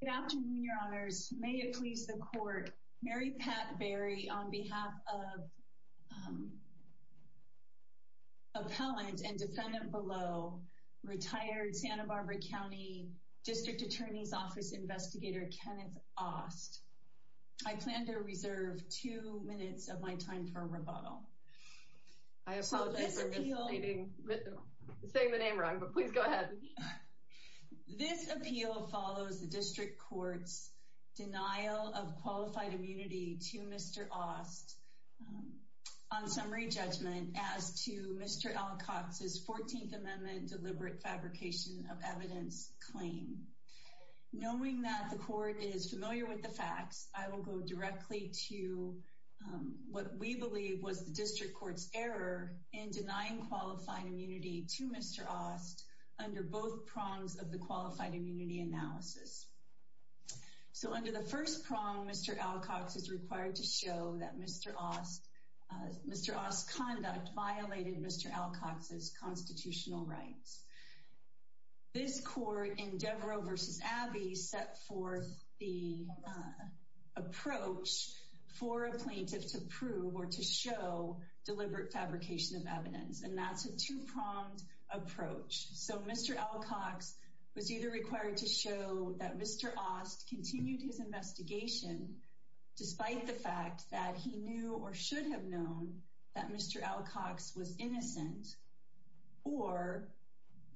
Good afternoon, your honors. May it please the court. Mary Pat Berry on behalf of appellant and defendant below, retired Santa Barbara County District Attorney's Office Investigator, Kenneth Aust. I plan to reserve two minutes of my time for rebuttal. I apologize for saying the name wrong, but please go ahead. This appeal follows the district court's denial of qualified immunity to Mr. Aust on summary judgment as to Mr. Alcox's 14th Amendment deliberate fabrication of evidence claim. Knowing that the court is familiar with the facts, I will go directly to what we believe was the district court's error in denying qualified immunity to Mr. Aust under both prongs of the qualified immunity analysis. So under the first prong, Mr. Alcox is required to show that Mr. Aust's conduct violated Mr. Alcox's constitutional rights. This court in Devereux v. Abbey set forth the approach for a plaintiff to prove or to show deliberate fabrication of evidence, and that's a two-pronged approach. So Mr. Alcox was either required to show that Mr. Aust continued his investigation despite the fact that he knew or should have known that Mr. Alcox was innocent, or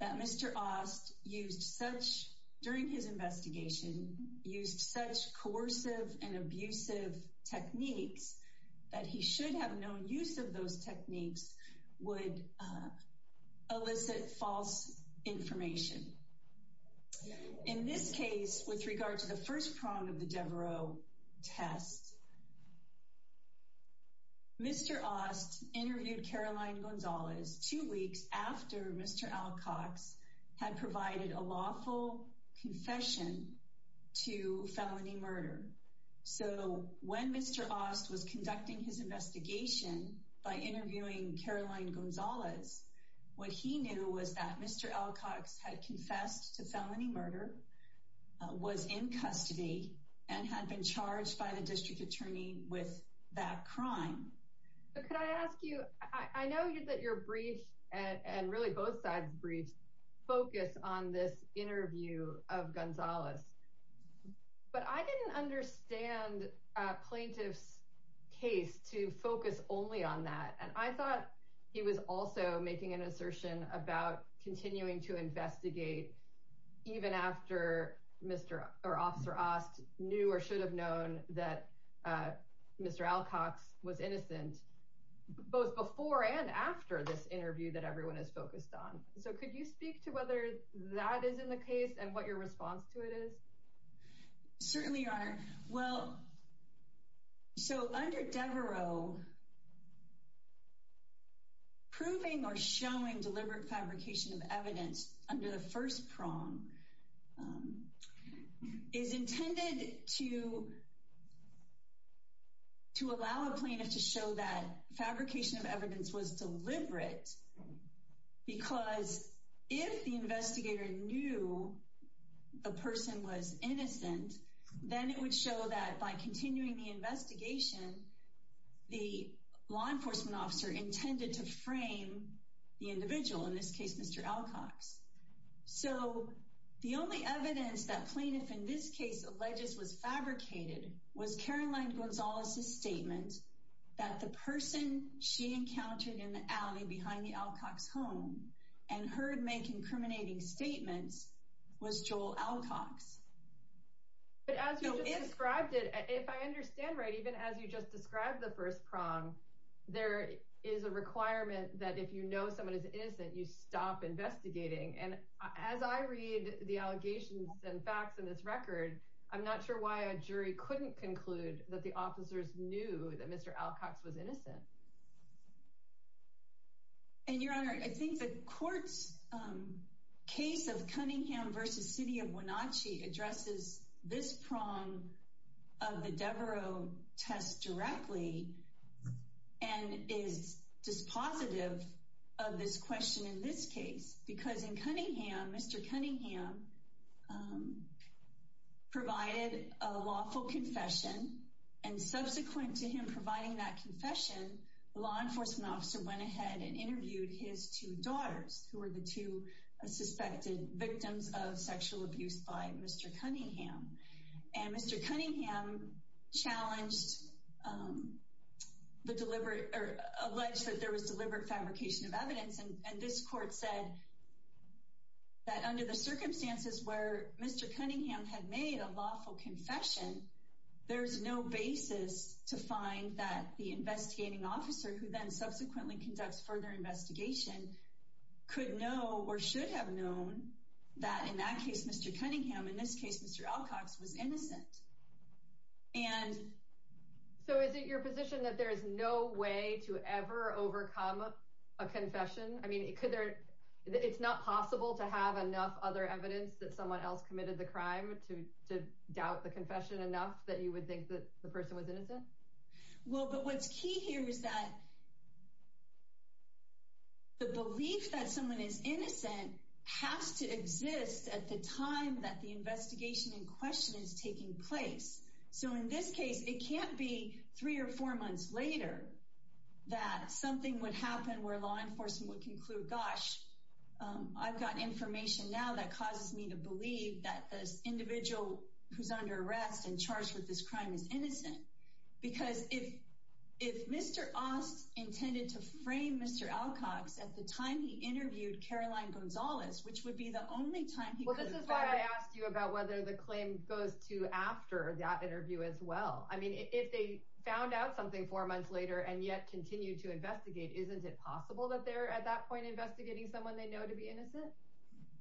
that Mr. Aust, during his investigation, used such coercive and abusive techniques that he should have known use of those techniques would elicit false information. In this case, with regard to the first prong of the Devereux test, Mr. Aust interviewed Caroline Gonzalez two weeks after Mr. Alcox had provided a lawful confession to felony murder. So when Mr. Aust was conducting his investigation by interviewing Caroline Gonzalez, what he knew was that Mr. Alcox had confessed to felony murder, was in custody, and had been charged by the district attorney with that crime. Could I ask you, I know that your brief, and really both sides' briefs, focus on this interview of Gonzalez, but I didn't understand a plaintiff's case to focus only on that, and I thought he was also making an assertion about continuing to investigate even after Mr. or Officer Aust knew or should have known that Mr. Alcox was innocent, both before and after this interview that everyone is focused on. So could you speak to whether that is in the case and what your response to it is? Certainly, Your Honor. Well, so under Devereux, proving or showing deliberate fabrication of evidence under the first prong is intended to because if the investigator knew the person was innocent, then it would show that by continuing the investigation, the law enforcement officer intended to frame the individual, in this case, Mr. Alcox. So the only evidence that plaintiff in this case alleges was fabricated was Caroline Gonzalez's statement that the person she encountered in the alley behind the Alcox home and heard make incriminating statements was Joel Alcox. But as you described it, if I understand right, even as you just described the first prong, there is a requirement that if you know someone is innocent, you stop investigating. And as I read the allegations and facts in this record, I'm not sure why a jury couldn't conclude that the officers knew that Mr. Alcox was innocent. And Your Honor, I think the court's case of Cunningham versus City of Wenatchee addresses this prong of the Devereux test directly and is dispositive of this question in this case, because in Cunningham, Mr. Cunningham provided a lawful confession. And subsequent to him providing that confession, the law enforcement officer went ahead and interviewed his two daughters, who were the two suspected victims of sexual abuse by Mr. Cunningham. And Mr. Cunningham challenged the deliberate or alleged that there was deliberate fabrication of evidence. And this court said that under the circumstances where Mr. Cunningham had made a lawful confession, there's no basis to find that the investigating officer who then subsequently conducts further investigation could know or should have known that in that case, Mr. Cunningham, in this case, Mr. Alcox was innocent. And so is it your position that there is no way to ever overcome a confession? I mean, could there, it's not possible to have enough other evidence that someone else committed the crime to doubt the confession enough that you would think that the person was innocent? Well, but what's key here is that the belief that someone is innocent has to exist at the time that the investigation in question is taking place. So in this case, it can't be three or four months later that something would happen where law enforcement would conclude, gosh, I've got information now that causes me to believe that this individual who's under arrest and charged with this crime is innocent. Because if, if Mr. Ost intended to frame Mr. Alcox at the time he interviewed Caroline Gonzalez, which would be the only time he asked you about whether the claim goes to after that interview as well. I mean, if they found out something four months later and yet continue to investigate, isn't it possible that they're at that point investigating someone they know to be innocent?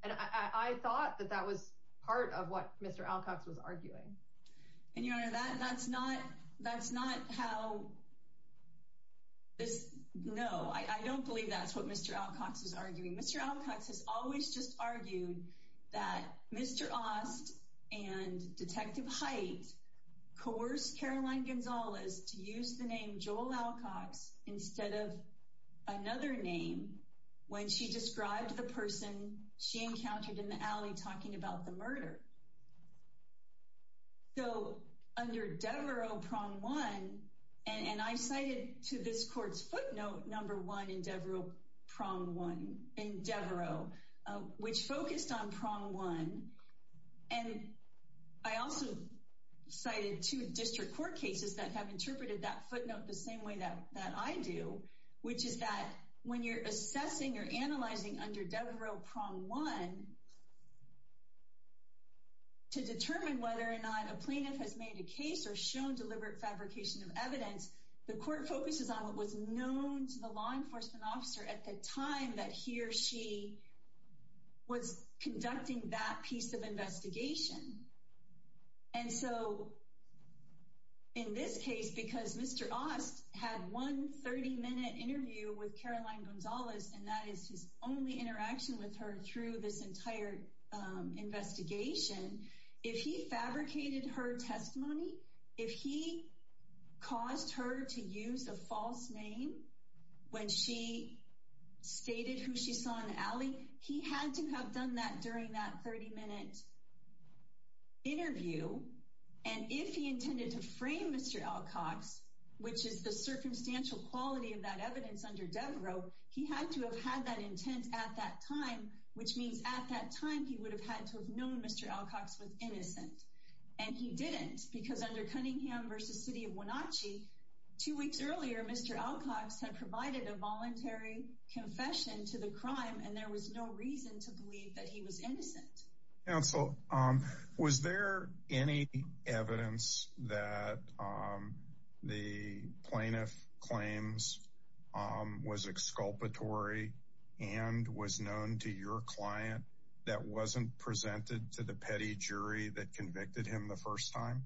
And I thought that that was part of what Mr. Alcox was arguing. And your honor, that's not, that's not how this, no, I don't believe that's what Mr. Alcox was arguing. Mr. Alcox has always just argued that Mr. Ost and Detective Hite coerced Caroline Gonzalez to use the name Joel Alcox instead of another name when she described the person she encountered in the alley talking about the murder. So under Devereux, prong one, and I cited to this court's footnote number one in Devereux, prong one, in Devereux, which focused on prong one. And I also cited two district court cases that have interpreted that footnote the same way that I do, which is that when you're assessing or analyzing under Devereux, prong one, to determine whether or not a plaintiff has made a case or shown deliberate fabrication of evidence, the court focuses on what was known to the law enforcement officer at the time that he or she was conducting that piece of investigation. And so in this case, because Mr. Ost had one 30-minute interview with Caroline Gonzalez, and that is his only interaction with her through this entire investigation, if he fabricated her testimony, if he caused her to use a false name when she stated who she saw in the alley, he had to have done that during that 30-minute interview. And if he intended to frame Mr. Alcox, which is the circumstantial quality of that evidence under Devereux, he had to have had that intent at that time, which means at that time, he would have had to have known Mr. Alcox was innocent. And he didn't, because under Cunningham v. City of Wenatchee, two weeks earlier, Mr. Alcox had provided a voluntary confession to the crime, and there was no reason to believe that he was innocent. Counsel, was there any evidence that the plaintiff claims was exculpatory and was known to your client that wasn't presented to the petty jury that convicted him the first time?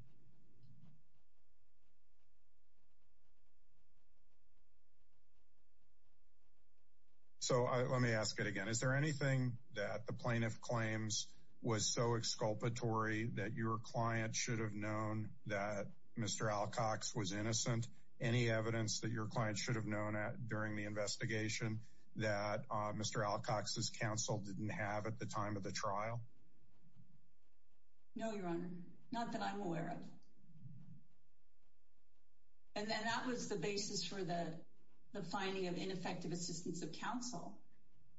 So, let me ask it again. Is there anything that the plaintiff claims was so exculpatory that your client should have known that Mr. Alcox was innocent? Any evidence that your client should have known during the investigation that Mr. Alcox's counsel didn't have at the time of the crime? And then that was the basis for the finding of ineffective assistance of counsel,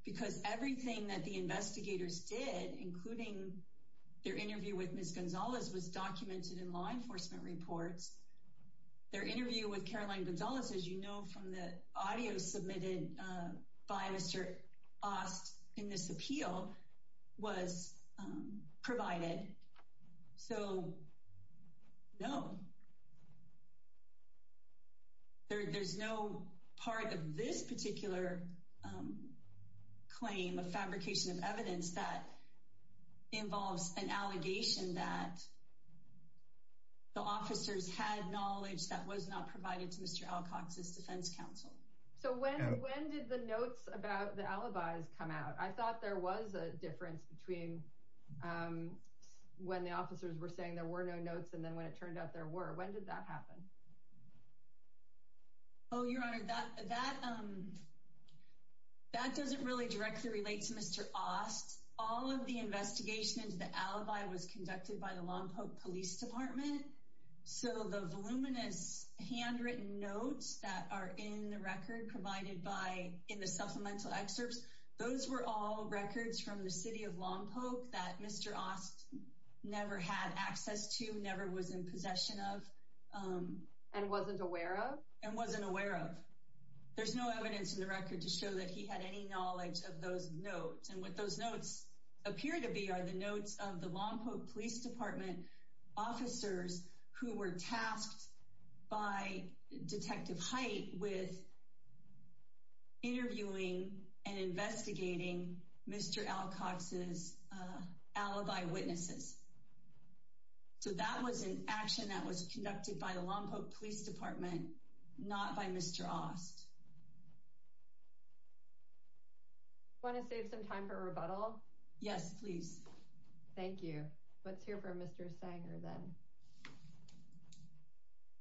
because everything that the investigators did, including their interview with Ms. Gonzalez, was documented in law enforcement reports. Their interview with Caroline Gonzalez, as you know from the audio submitted by Mr. Ost in this appeal, was provided. So, no. There's no part of this particular claim of fabrication of evidence that involves an allegation that the officers had knowledge that was not provided to Mr. Alcox's defense counsel. So, when did the notes about the alibis come out? I thought there was a difference between when the officers were saying there were no notes and then when it turned out there were. When did that happen? Oh, your honor, that doesn't really directly relate to Mr. Ost. All of the investigations, the alibi was conducted by the Lompoc Police Department. So, the voluminous handwritten notes that are in the record provided by in the supplemental excerpts, those were all records from the city of Lompoc that Mr. Ost never had access to, never was in possession of, and wasn't aware of. There's no evidence in the record to show that he had any knowledge of those notes. And what those notes appear to be are the notes of the Lompoc and investigating Mr. Alcox's alibi witnesses. So, that was an action that was conducted by the Lompoc Police Department, not by Mr. Ost. Want to save some time for a rebuttal? Yes, please. Thank you. Let's hear from Mr. Sanger then.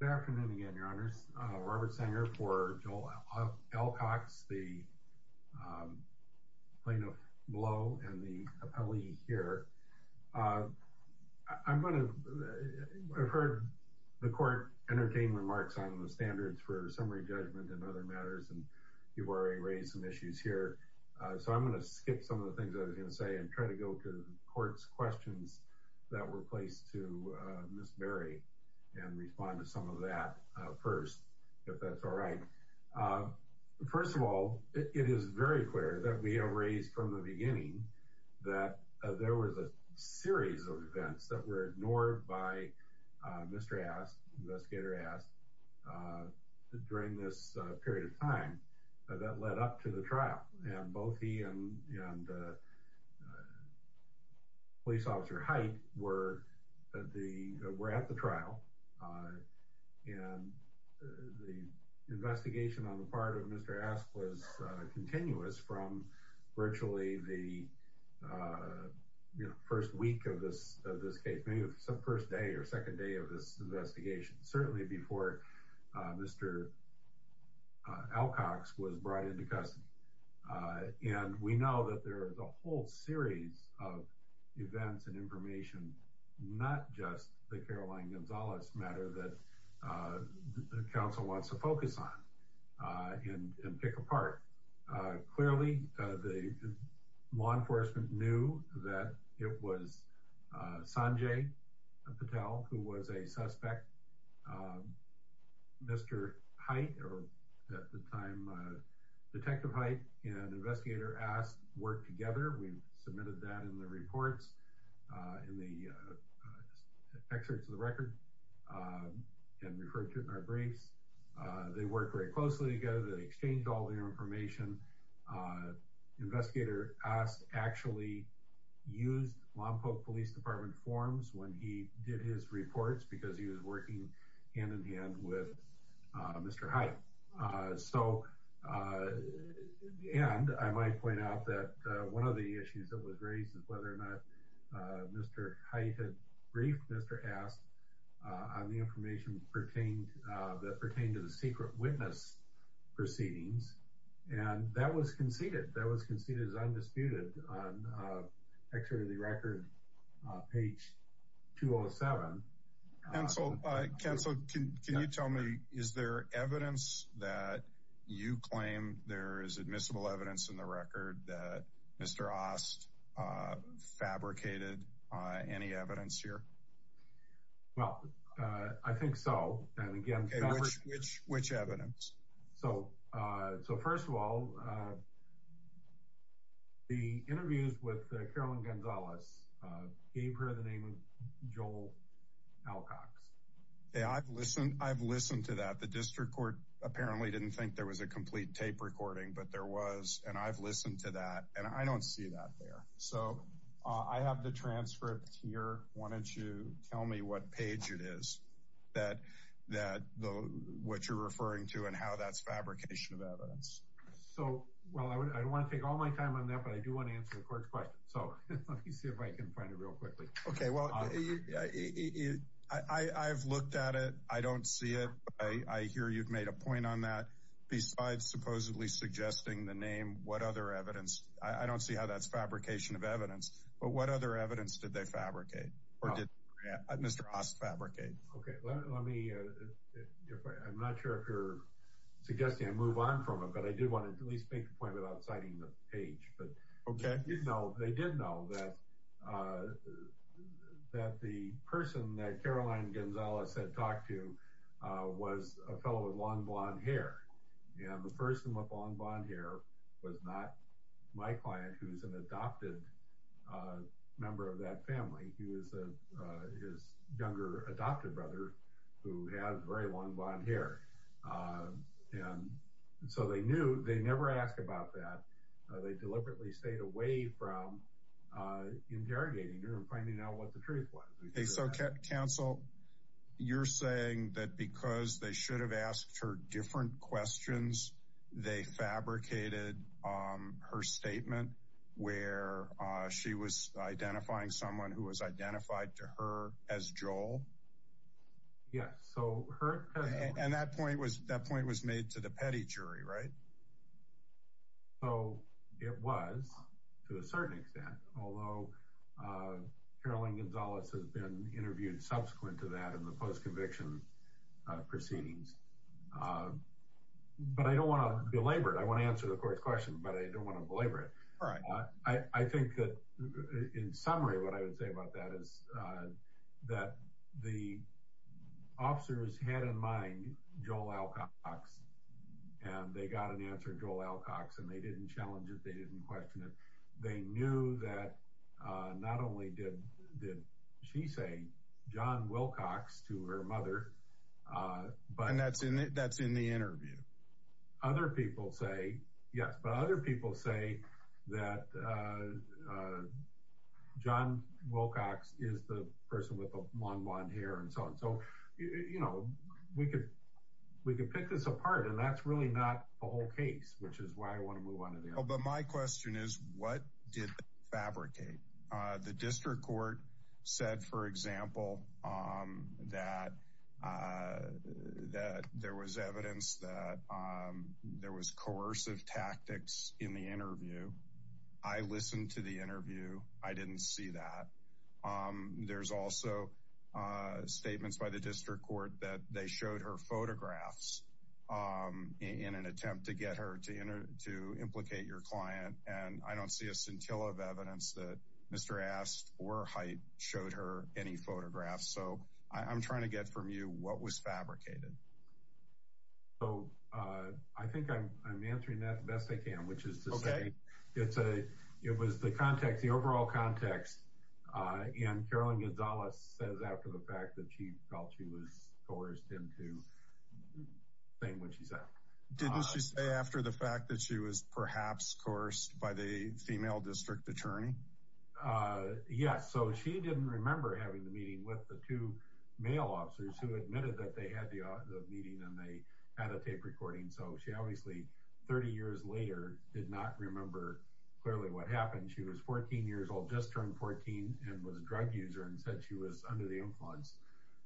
Good afternoon again, your honors. Robert Sanger for Joel Alcox, the plaintiff below and the appellee here. I've heard the court entertain remarks on the standards for summary judgment and other matters and you've already raised some issues here. So, I'm going to skip some of the and respond to some of that first, if that's all right. First of all, it is very clear that we have raised from the beginning that there was a series of events that were ignored by Mr. Ost, investigator Ost, during this period of time that led up to the trial. And both he and the police officer Height were at the trial. And the investigation on the part of Mr. Ost was continuous from virtually the first week of this case, maybe the first day or second day of this investigation, certainly before Mr. Alcox was brought into custody. And we know that there is a whole series of events and information, not just the Caroline Gonzalez matter that the council wants to focus on and pick apart. Clearly, the law enforcement knew that it was Sanjay Patel, who was a suspect. Mr. Height or at the time, Detective Height and investigator Ost work together. We've submitted that in the reports, in the excerpts of the record and referred to it in our briefs. They work very closely together. They exchanged all their information. Investigator Ost actually used Lompoc Police Department forms when he did his reports because he was working hand in hand with Mr. Height. And I might point out that one of the issues that was raised is whether or not Mr. Height had briefed Mr. Ost on the information that pertained to the secret witness proceedings. And that was conceded. That was conceded as counsel. Can you tell me, is there evidence that you claim there is admissible evidence in the record that Mr. Ost fabricated any evidence here? Well, I think so. And again, which evidence? So, so first of all, the interviews with Carolyn Gonzalez gave her the name of Joel Alcox. Yeah, I've listened, I've listened to that. The district court apparently didn't think there was a complete tape recording, but there was, and I've listened to that and I don't see that there. So I have the transcript here. Why don't you tell me what page it is that, that the, what you're referring to and how that's fabrication of evidence. So, well, I wouldn't, I don't want to take all my time on that, but I do want to answer the court's question. So let me see if I can find it real quickly. Okay. Well, I, I've looked at it. I don't see it. I hear you've made a point on that besides supposedly suggesting the name. What other evidence? I don't see how that's fabrication of evidence, but what other evidence did they fabricate or did Mr. Ost fabricate? Okay. Let me, I'm not sure if you're suggesting I move on from it, but I did want to at least make a point without citing the page, but they did know that, that the person that Carolyn Gonzalez had talked to was a fellow with long blonde hair. And the person with long blonde hair was not my client, who's an adopted member of that family. He was his younger adopted brother who had very long blonde hair. And so they knew they never asked about that. They deliberately stayed away from interrogating her and finding out what the truth was. Okay. So counsel, you're saying that because they should have asked her different questions, they fabricated her statement where she was identifying someone who was identified to her as Joel? Yes. So her, and that point was, that point was made to the petty jury, right? So it was to a certain extent, although Carolyn Gonzalez has been interviewed subsequent to that in the post-conviction proceedings. But I don't want to belabor it. I want to answer the court's question, but I don't want to belabor it. All right. I think that in summary, what I would say about that is that the officers had in mind Joel Alcox, and they got an answer, Joel Alcox, and they didn't challenge it. They didn't question it. They knew that not only did she say John Wilcox to her mother, but... And that's in the interview. Other people say, yes, but other people say that John Wilcox is the person with the long blonde hair and so on. So, you know, we could pick this apart and that's really not the whole case, which is why I want to move on. But my question is, what did they fabricate? The district court said, for example, that there was evidence that there was coercive tactics in the interview. I listened to the interview. I didn't see that. There's also statements by the district court that they showed her photographs in an attempt to get her to implicate your client, and I don't see a scintilla of evidence that Mr. Ast or Hyte showed her any photographs. So I'm trying to get from you what was fabricated. So I think I'm answering that the best I can, which is to say it was the context, the overall context, and Carolyn Gonzalez says after the fact that she was coerced into saying what she said. Didn't she say after the fact that she was perhaps coerced by the female district attorney? Yes. So she didn't remember having the meeting with the two male officers who admitted that they had the meeting and they had a tape recording. So she obviously 30 years later did not remember clearly what happened. She was 14 years old, just turned 14 and was a drug user and said she was under the influence.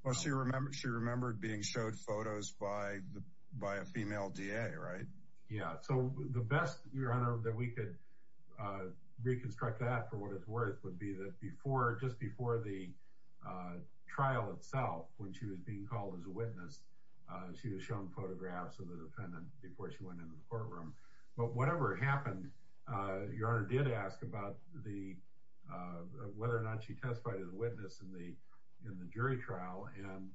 Well, she remembered being showed photos by a female DA, right? Yeah. So the best, Your Honor, that we could reconstruct that for what it's worth would be that before, just before the trial itself, when she was being called as a witness, she was shown photographs of the defendant before she went into the courtroom. But whatever happened, Your Honor did ask about the, whether or not she testified as a witness in the jury trial and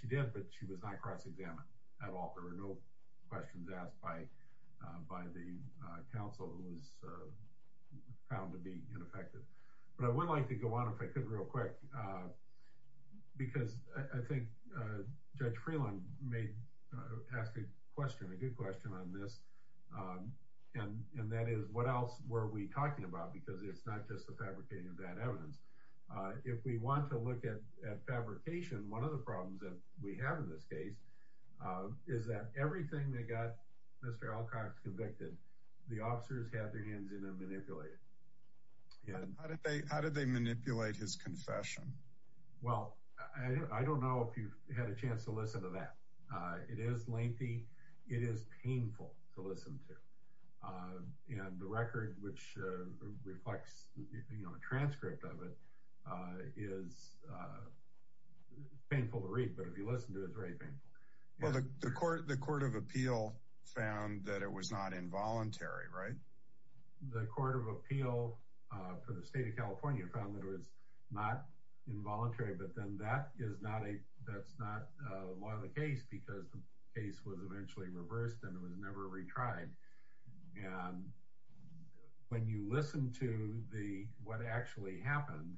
she did, but she was not cross-examined at all. There were no questions asked by the counsel who was found to be ineffective. But I would like to go on if I could real quick, because I think Judge Freeland may ask a question, a good question on this. And that is, what else were we talking about? Because it's not just the fabricating of that evidence. If we want to look at fabrication, one of the problems that we have in this case is that everything that got Mr. Alcox convicted, the officers had their hands in and manipulated. How did they manipulate his confession? Well, I don't know if you've had a chance to listen to that. It is lengthy. It is painful to listen to. And the record which reflects a transcript of it is painful to read, but if you listen to it, it's very painful. Well, the Court of Appeal found that it was not involuntary, right? The Court of Appeal for the state of California found that it was not involuntary, but then that is not a, that's not a law of the case because the case was eventually reversed and it was never retried. And when you listen to the, what actually happened,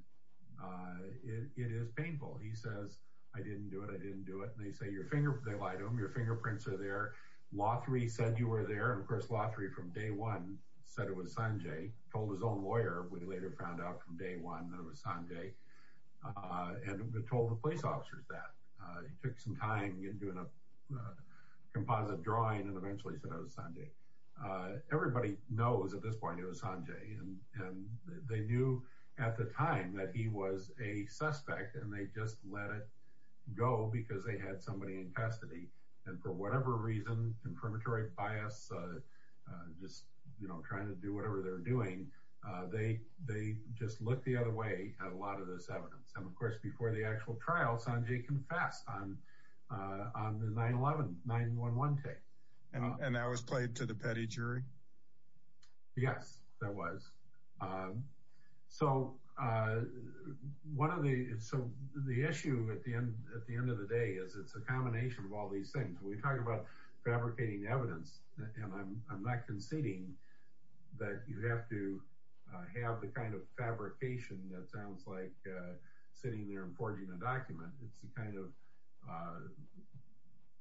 it is painful. He says, I didn't do it, I didn't do it. And they say your finger, they lied to him, your fingerprints are there. Lothry said you were there. And of course, Lothry from day one said it was Sanjay, told his own lawyer, we later found out from day one it was Sanjay and told the police officers that. He took some time in doing a composite drawing and eventually said it was Sanjay. Everybody knows at this point it was Sanjay. And they knew at the time that he was a suspect and they just let it go because they had somebody in custody. And for whatever reason, confirmatory bias, just, you know, trying to do whatever they're doing, they, they just looked the other way at a lot of this evidence. And of course, before the actual trial, Sanjay confessed on the 9-11, 9-1-1 tape. And that was played to the petty jury? Yes, that was. So one of the, so the issue at the end, at the end of the day is it's a combination of all these things. When we talk about fabricating evidence, and I'm not conceding that you have to have the kind of fabrication that sounds like sitting there and forging a document. It's the kind of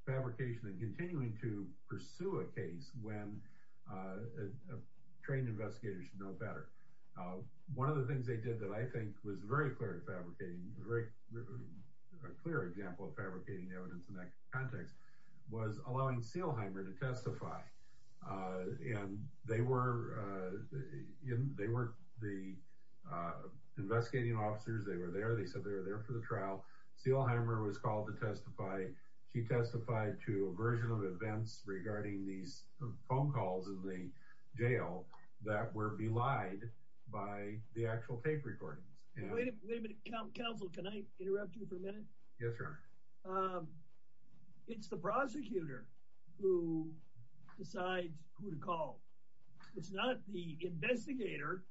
fabrication and continuing to pursue a case when a trained investigator should know better. One of the things they did that I think was very clear fabricating, a clear example of fabricating evidence in that context was allowing Seelheimer to testify. And they were, they were the investigating officers. They were there. They said they were there for the trial. Seelheimer was called to testify. She testified to a version of events regarding these phone calls in the jail that were belied by the actual tape recordings. Wait a minute, counsel, can I interrupt you for a minute? Yes, your honor. It's the prosecutor who decides who to call. It's not the investigator.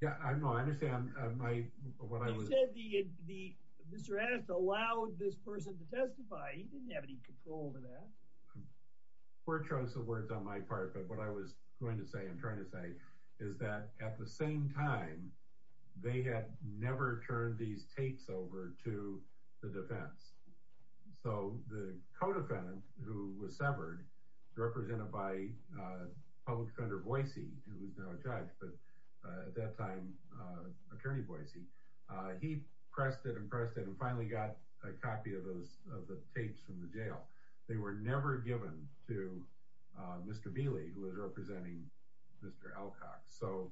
Yeah, I know, I understand. You said Mr. Addis allowed this person to testify. He didn't have any control over that. Court chose the words on my part. But what I was going to say, I'm trying to say, is that at the same time, they had never turned these tapes over to the defense. So the co-defendant who was severed, represented by public defender Boise, who is now a judge, but at that time, attorney Boise, he pressed it and pressed it and finally got a copy of those of Alcock. So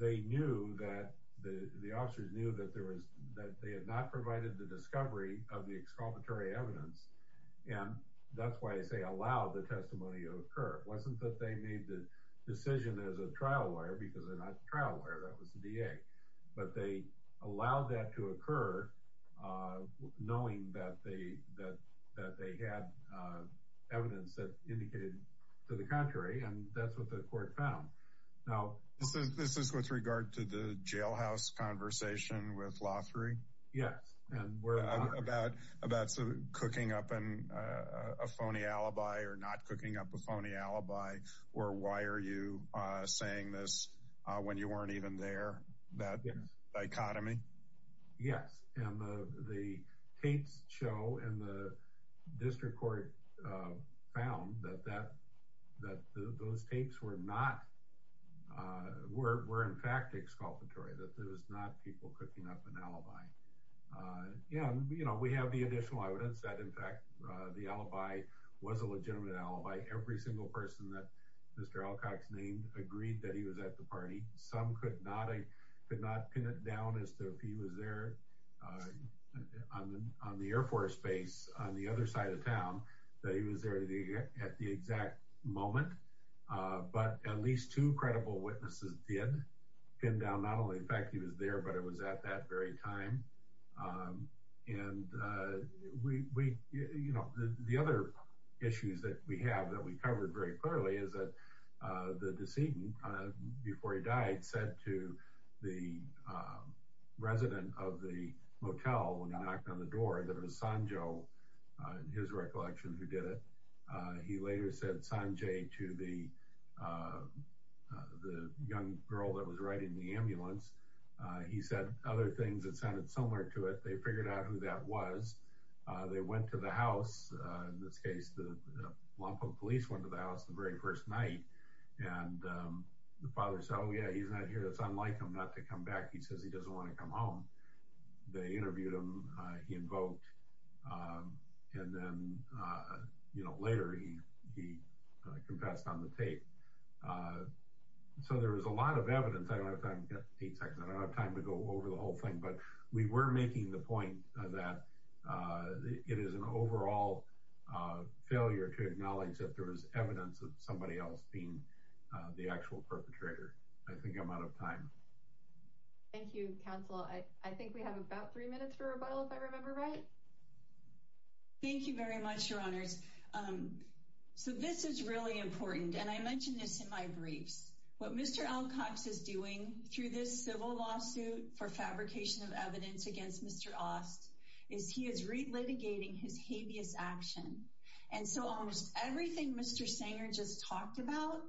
they knew that the officers knew that they had not provided the discovery of the excavatory evidence. And that's why I say allow the testimony to occur. It wasn't that they made the decision as a trial lawyer, because they're not a trial lawyer, that was the DA. But they allowed that to occur, knowing that they had evidence that indicated to the contrary. And that's what the court found. Now, this is with regard to the jailhouse conversation with Lothary. Yes. And we're about about some cooking up and a phony alibi or not cooking up a phony alibi. Or why are you saying this when you weren't even there? That dichotomy? Yes. And the tapes show in the district court found that that that those tapes were not were in fact excavatory, that there was not people cooking up an alibi. And, you know, we have the additional evidence that, in fact, the alibi was a legitimate alibi. Every single person that Mr. Alcock's name agreed that he was at the party. Some could not, could not pin it down as to if he was there on the Air Force Base on the other side of town, that he was there at the exact moment. But at least two credible witnesses did pin down not only the fact he was there, but it was at that very time. And we, you know, the other issues that we have that we covered very clearly is that the decedent, before he died, said to the resident of the motel when he knocked on the door that it was Sanjo, in his recollection, who did it. He later said Sanjay to the young girl that was riding the ambulance. He said other things that sounded similar to it. They figured out who that was. They went to the house. In this case, the Lompoc police went to the house the very first night. And the father said, oh yeah, he's not here. That's unlike him not to come back. He says he doesn't want to come home. They interviewed him. He invoked. And then, you know, later he confessed on the tape. So there was a lot of evidence. I don't have time to go over the whole thing, but we were making the point that it is an overall failure to acknowledge that there was evidence of somebody else being the actual perpetrator. I think I'm out of time. Thank you, counsel. I think we have about three minutes for rebuttal, if I remember right. Thank you very much, your honors. So this is really important, and I mentioned this in my briefs. What Mr. Alcox is doing through this civil lawsuit for fabrication of evidence against Mr. Ost is he is relitigating his habeas action. And so almost everything Mr. Sanger just talked about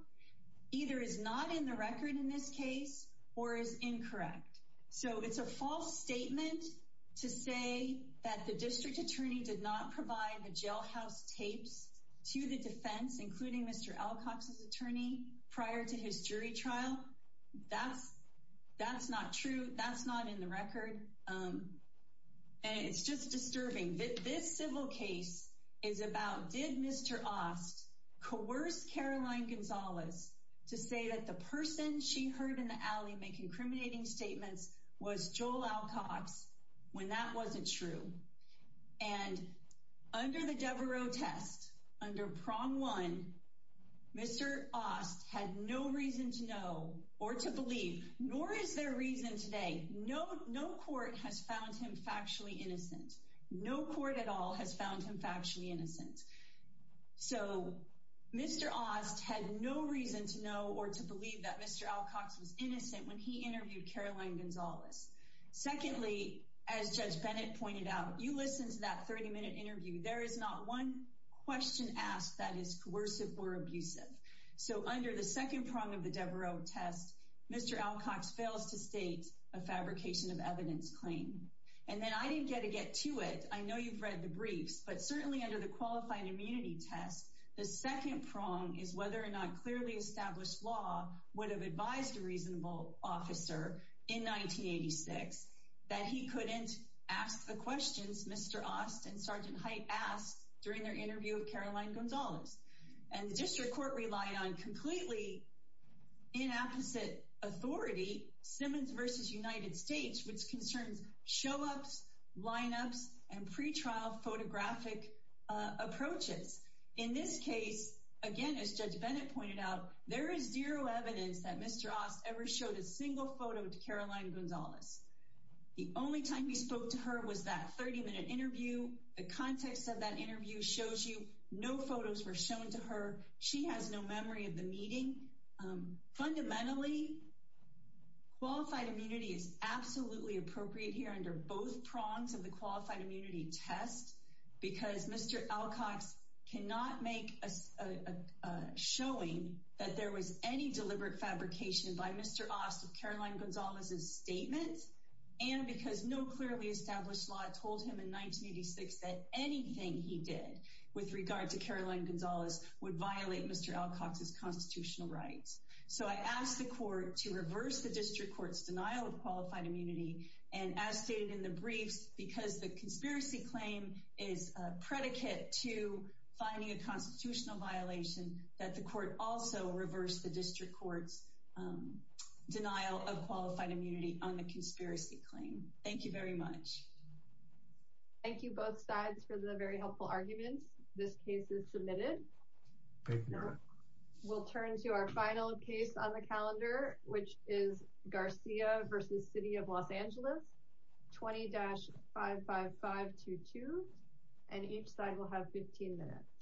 either is not in the record in this case or is incorrect. So it's a false statement to say that the district attorney did not provide the jailhouse tapes to the defense, including Mr. Alcox's attorney prior to his jury trial. That's not true. That's not in the record. And it's just disturbing that this civil case is about did Mr. Ost coerce Caroline Gonzalez to say that the person she heard in the alley making incriminating statements was Joel Alcox when that wasn't true. And under the Devereux test, under prong one, Mr. Ost had no reason to know or to believe, nor is there reason today. No court has found him factually innocent. No court at all has found him factually innocent. So Mr. Ost had no reason to know or to believe that Mr. Alcox was innocent when he interviewed Caroline Gonzalez. Secondly, as Judge Bennett pointed out, you listen to that 30-minute interview. There is not one question asked that is coercive or abusive. So under the second prong of the Devereux test, Mr. Alcox fails to state a fabrication of evidence claim. And then I didn't get to get to it. I know you've read the briefs, but certainly under the qualified immunity test, the second prong is whether or not clearly established law would have advised a reasonable officer in 1986 that he couldn't ask the questions Mr. Ost and Sergeant Height asked during their interview with Caroline Gonzalez. And the district court relied on completely inapposite authority, Simmons v. United States, which concerns show-ups, lineups, and pretrial photographic approaches. In this case, again, as Judge Bennett pointed out, there is zero evidence that Mr. Ost ever showed a single photo to Caroline Gonzalez. The only time he spoke to her was that 30-minute context of that interview shows you no photos were shown to her. She has no memory of the meeting. Fundamentally, qualified immunity is absolutely appropriate here under both prongs of the qualified immunity test because Mr. Alcox cannot make a showing that there was any deliberate fabrication by Mr. Ost of Caroline Gonzalez's statement. And because no clearly established law told him in 1986 that anything he did with regard to Caroline Gonzalez would violate Mr. Alcox's constitutional rights. So I asked the court to reverse the district court's denial of qualified immunity. And as stated in the briefs, because the conspiracy claim is a predicate to finding a constitutional violation, that the court also reversed the Thank you both sides for the very helpful arguments. This case is submitted. We'll turn to our final case on the calendar, which is Garcia v. City of Los Angeles, 20-55522. And each side will have 15 minutes.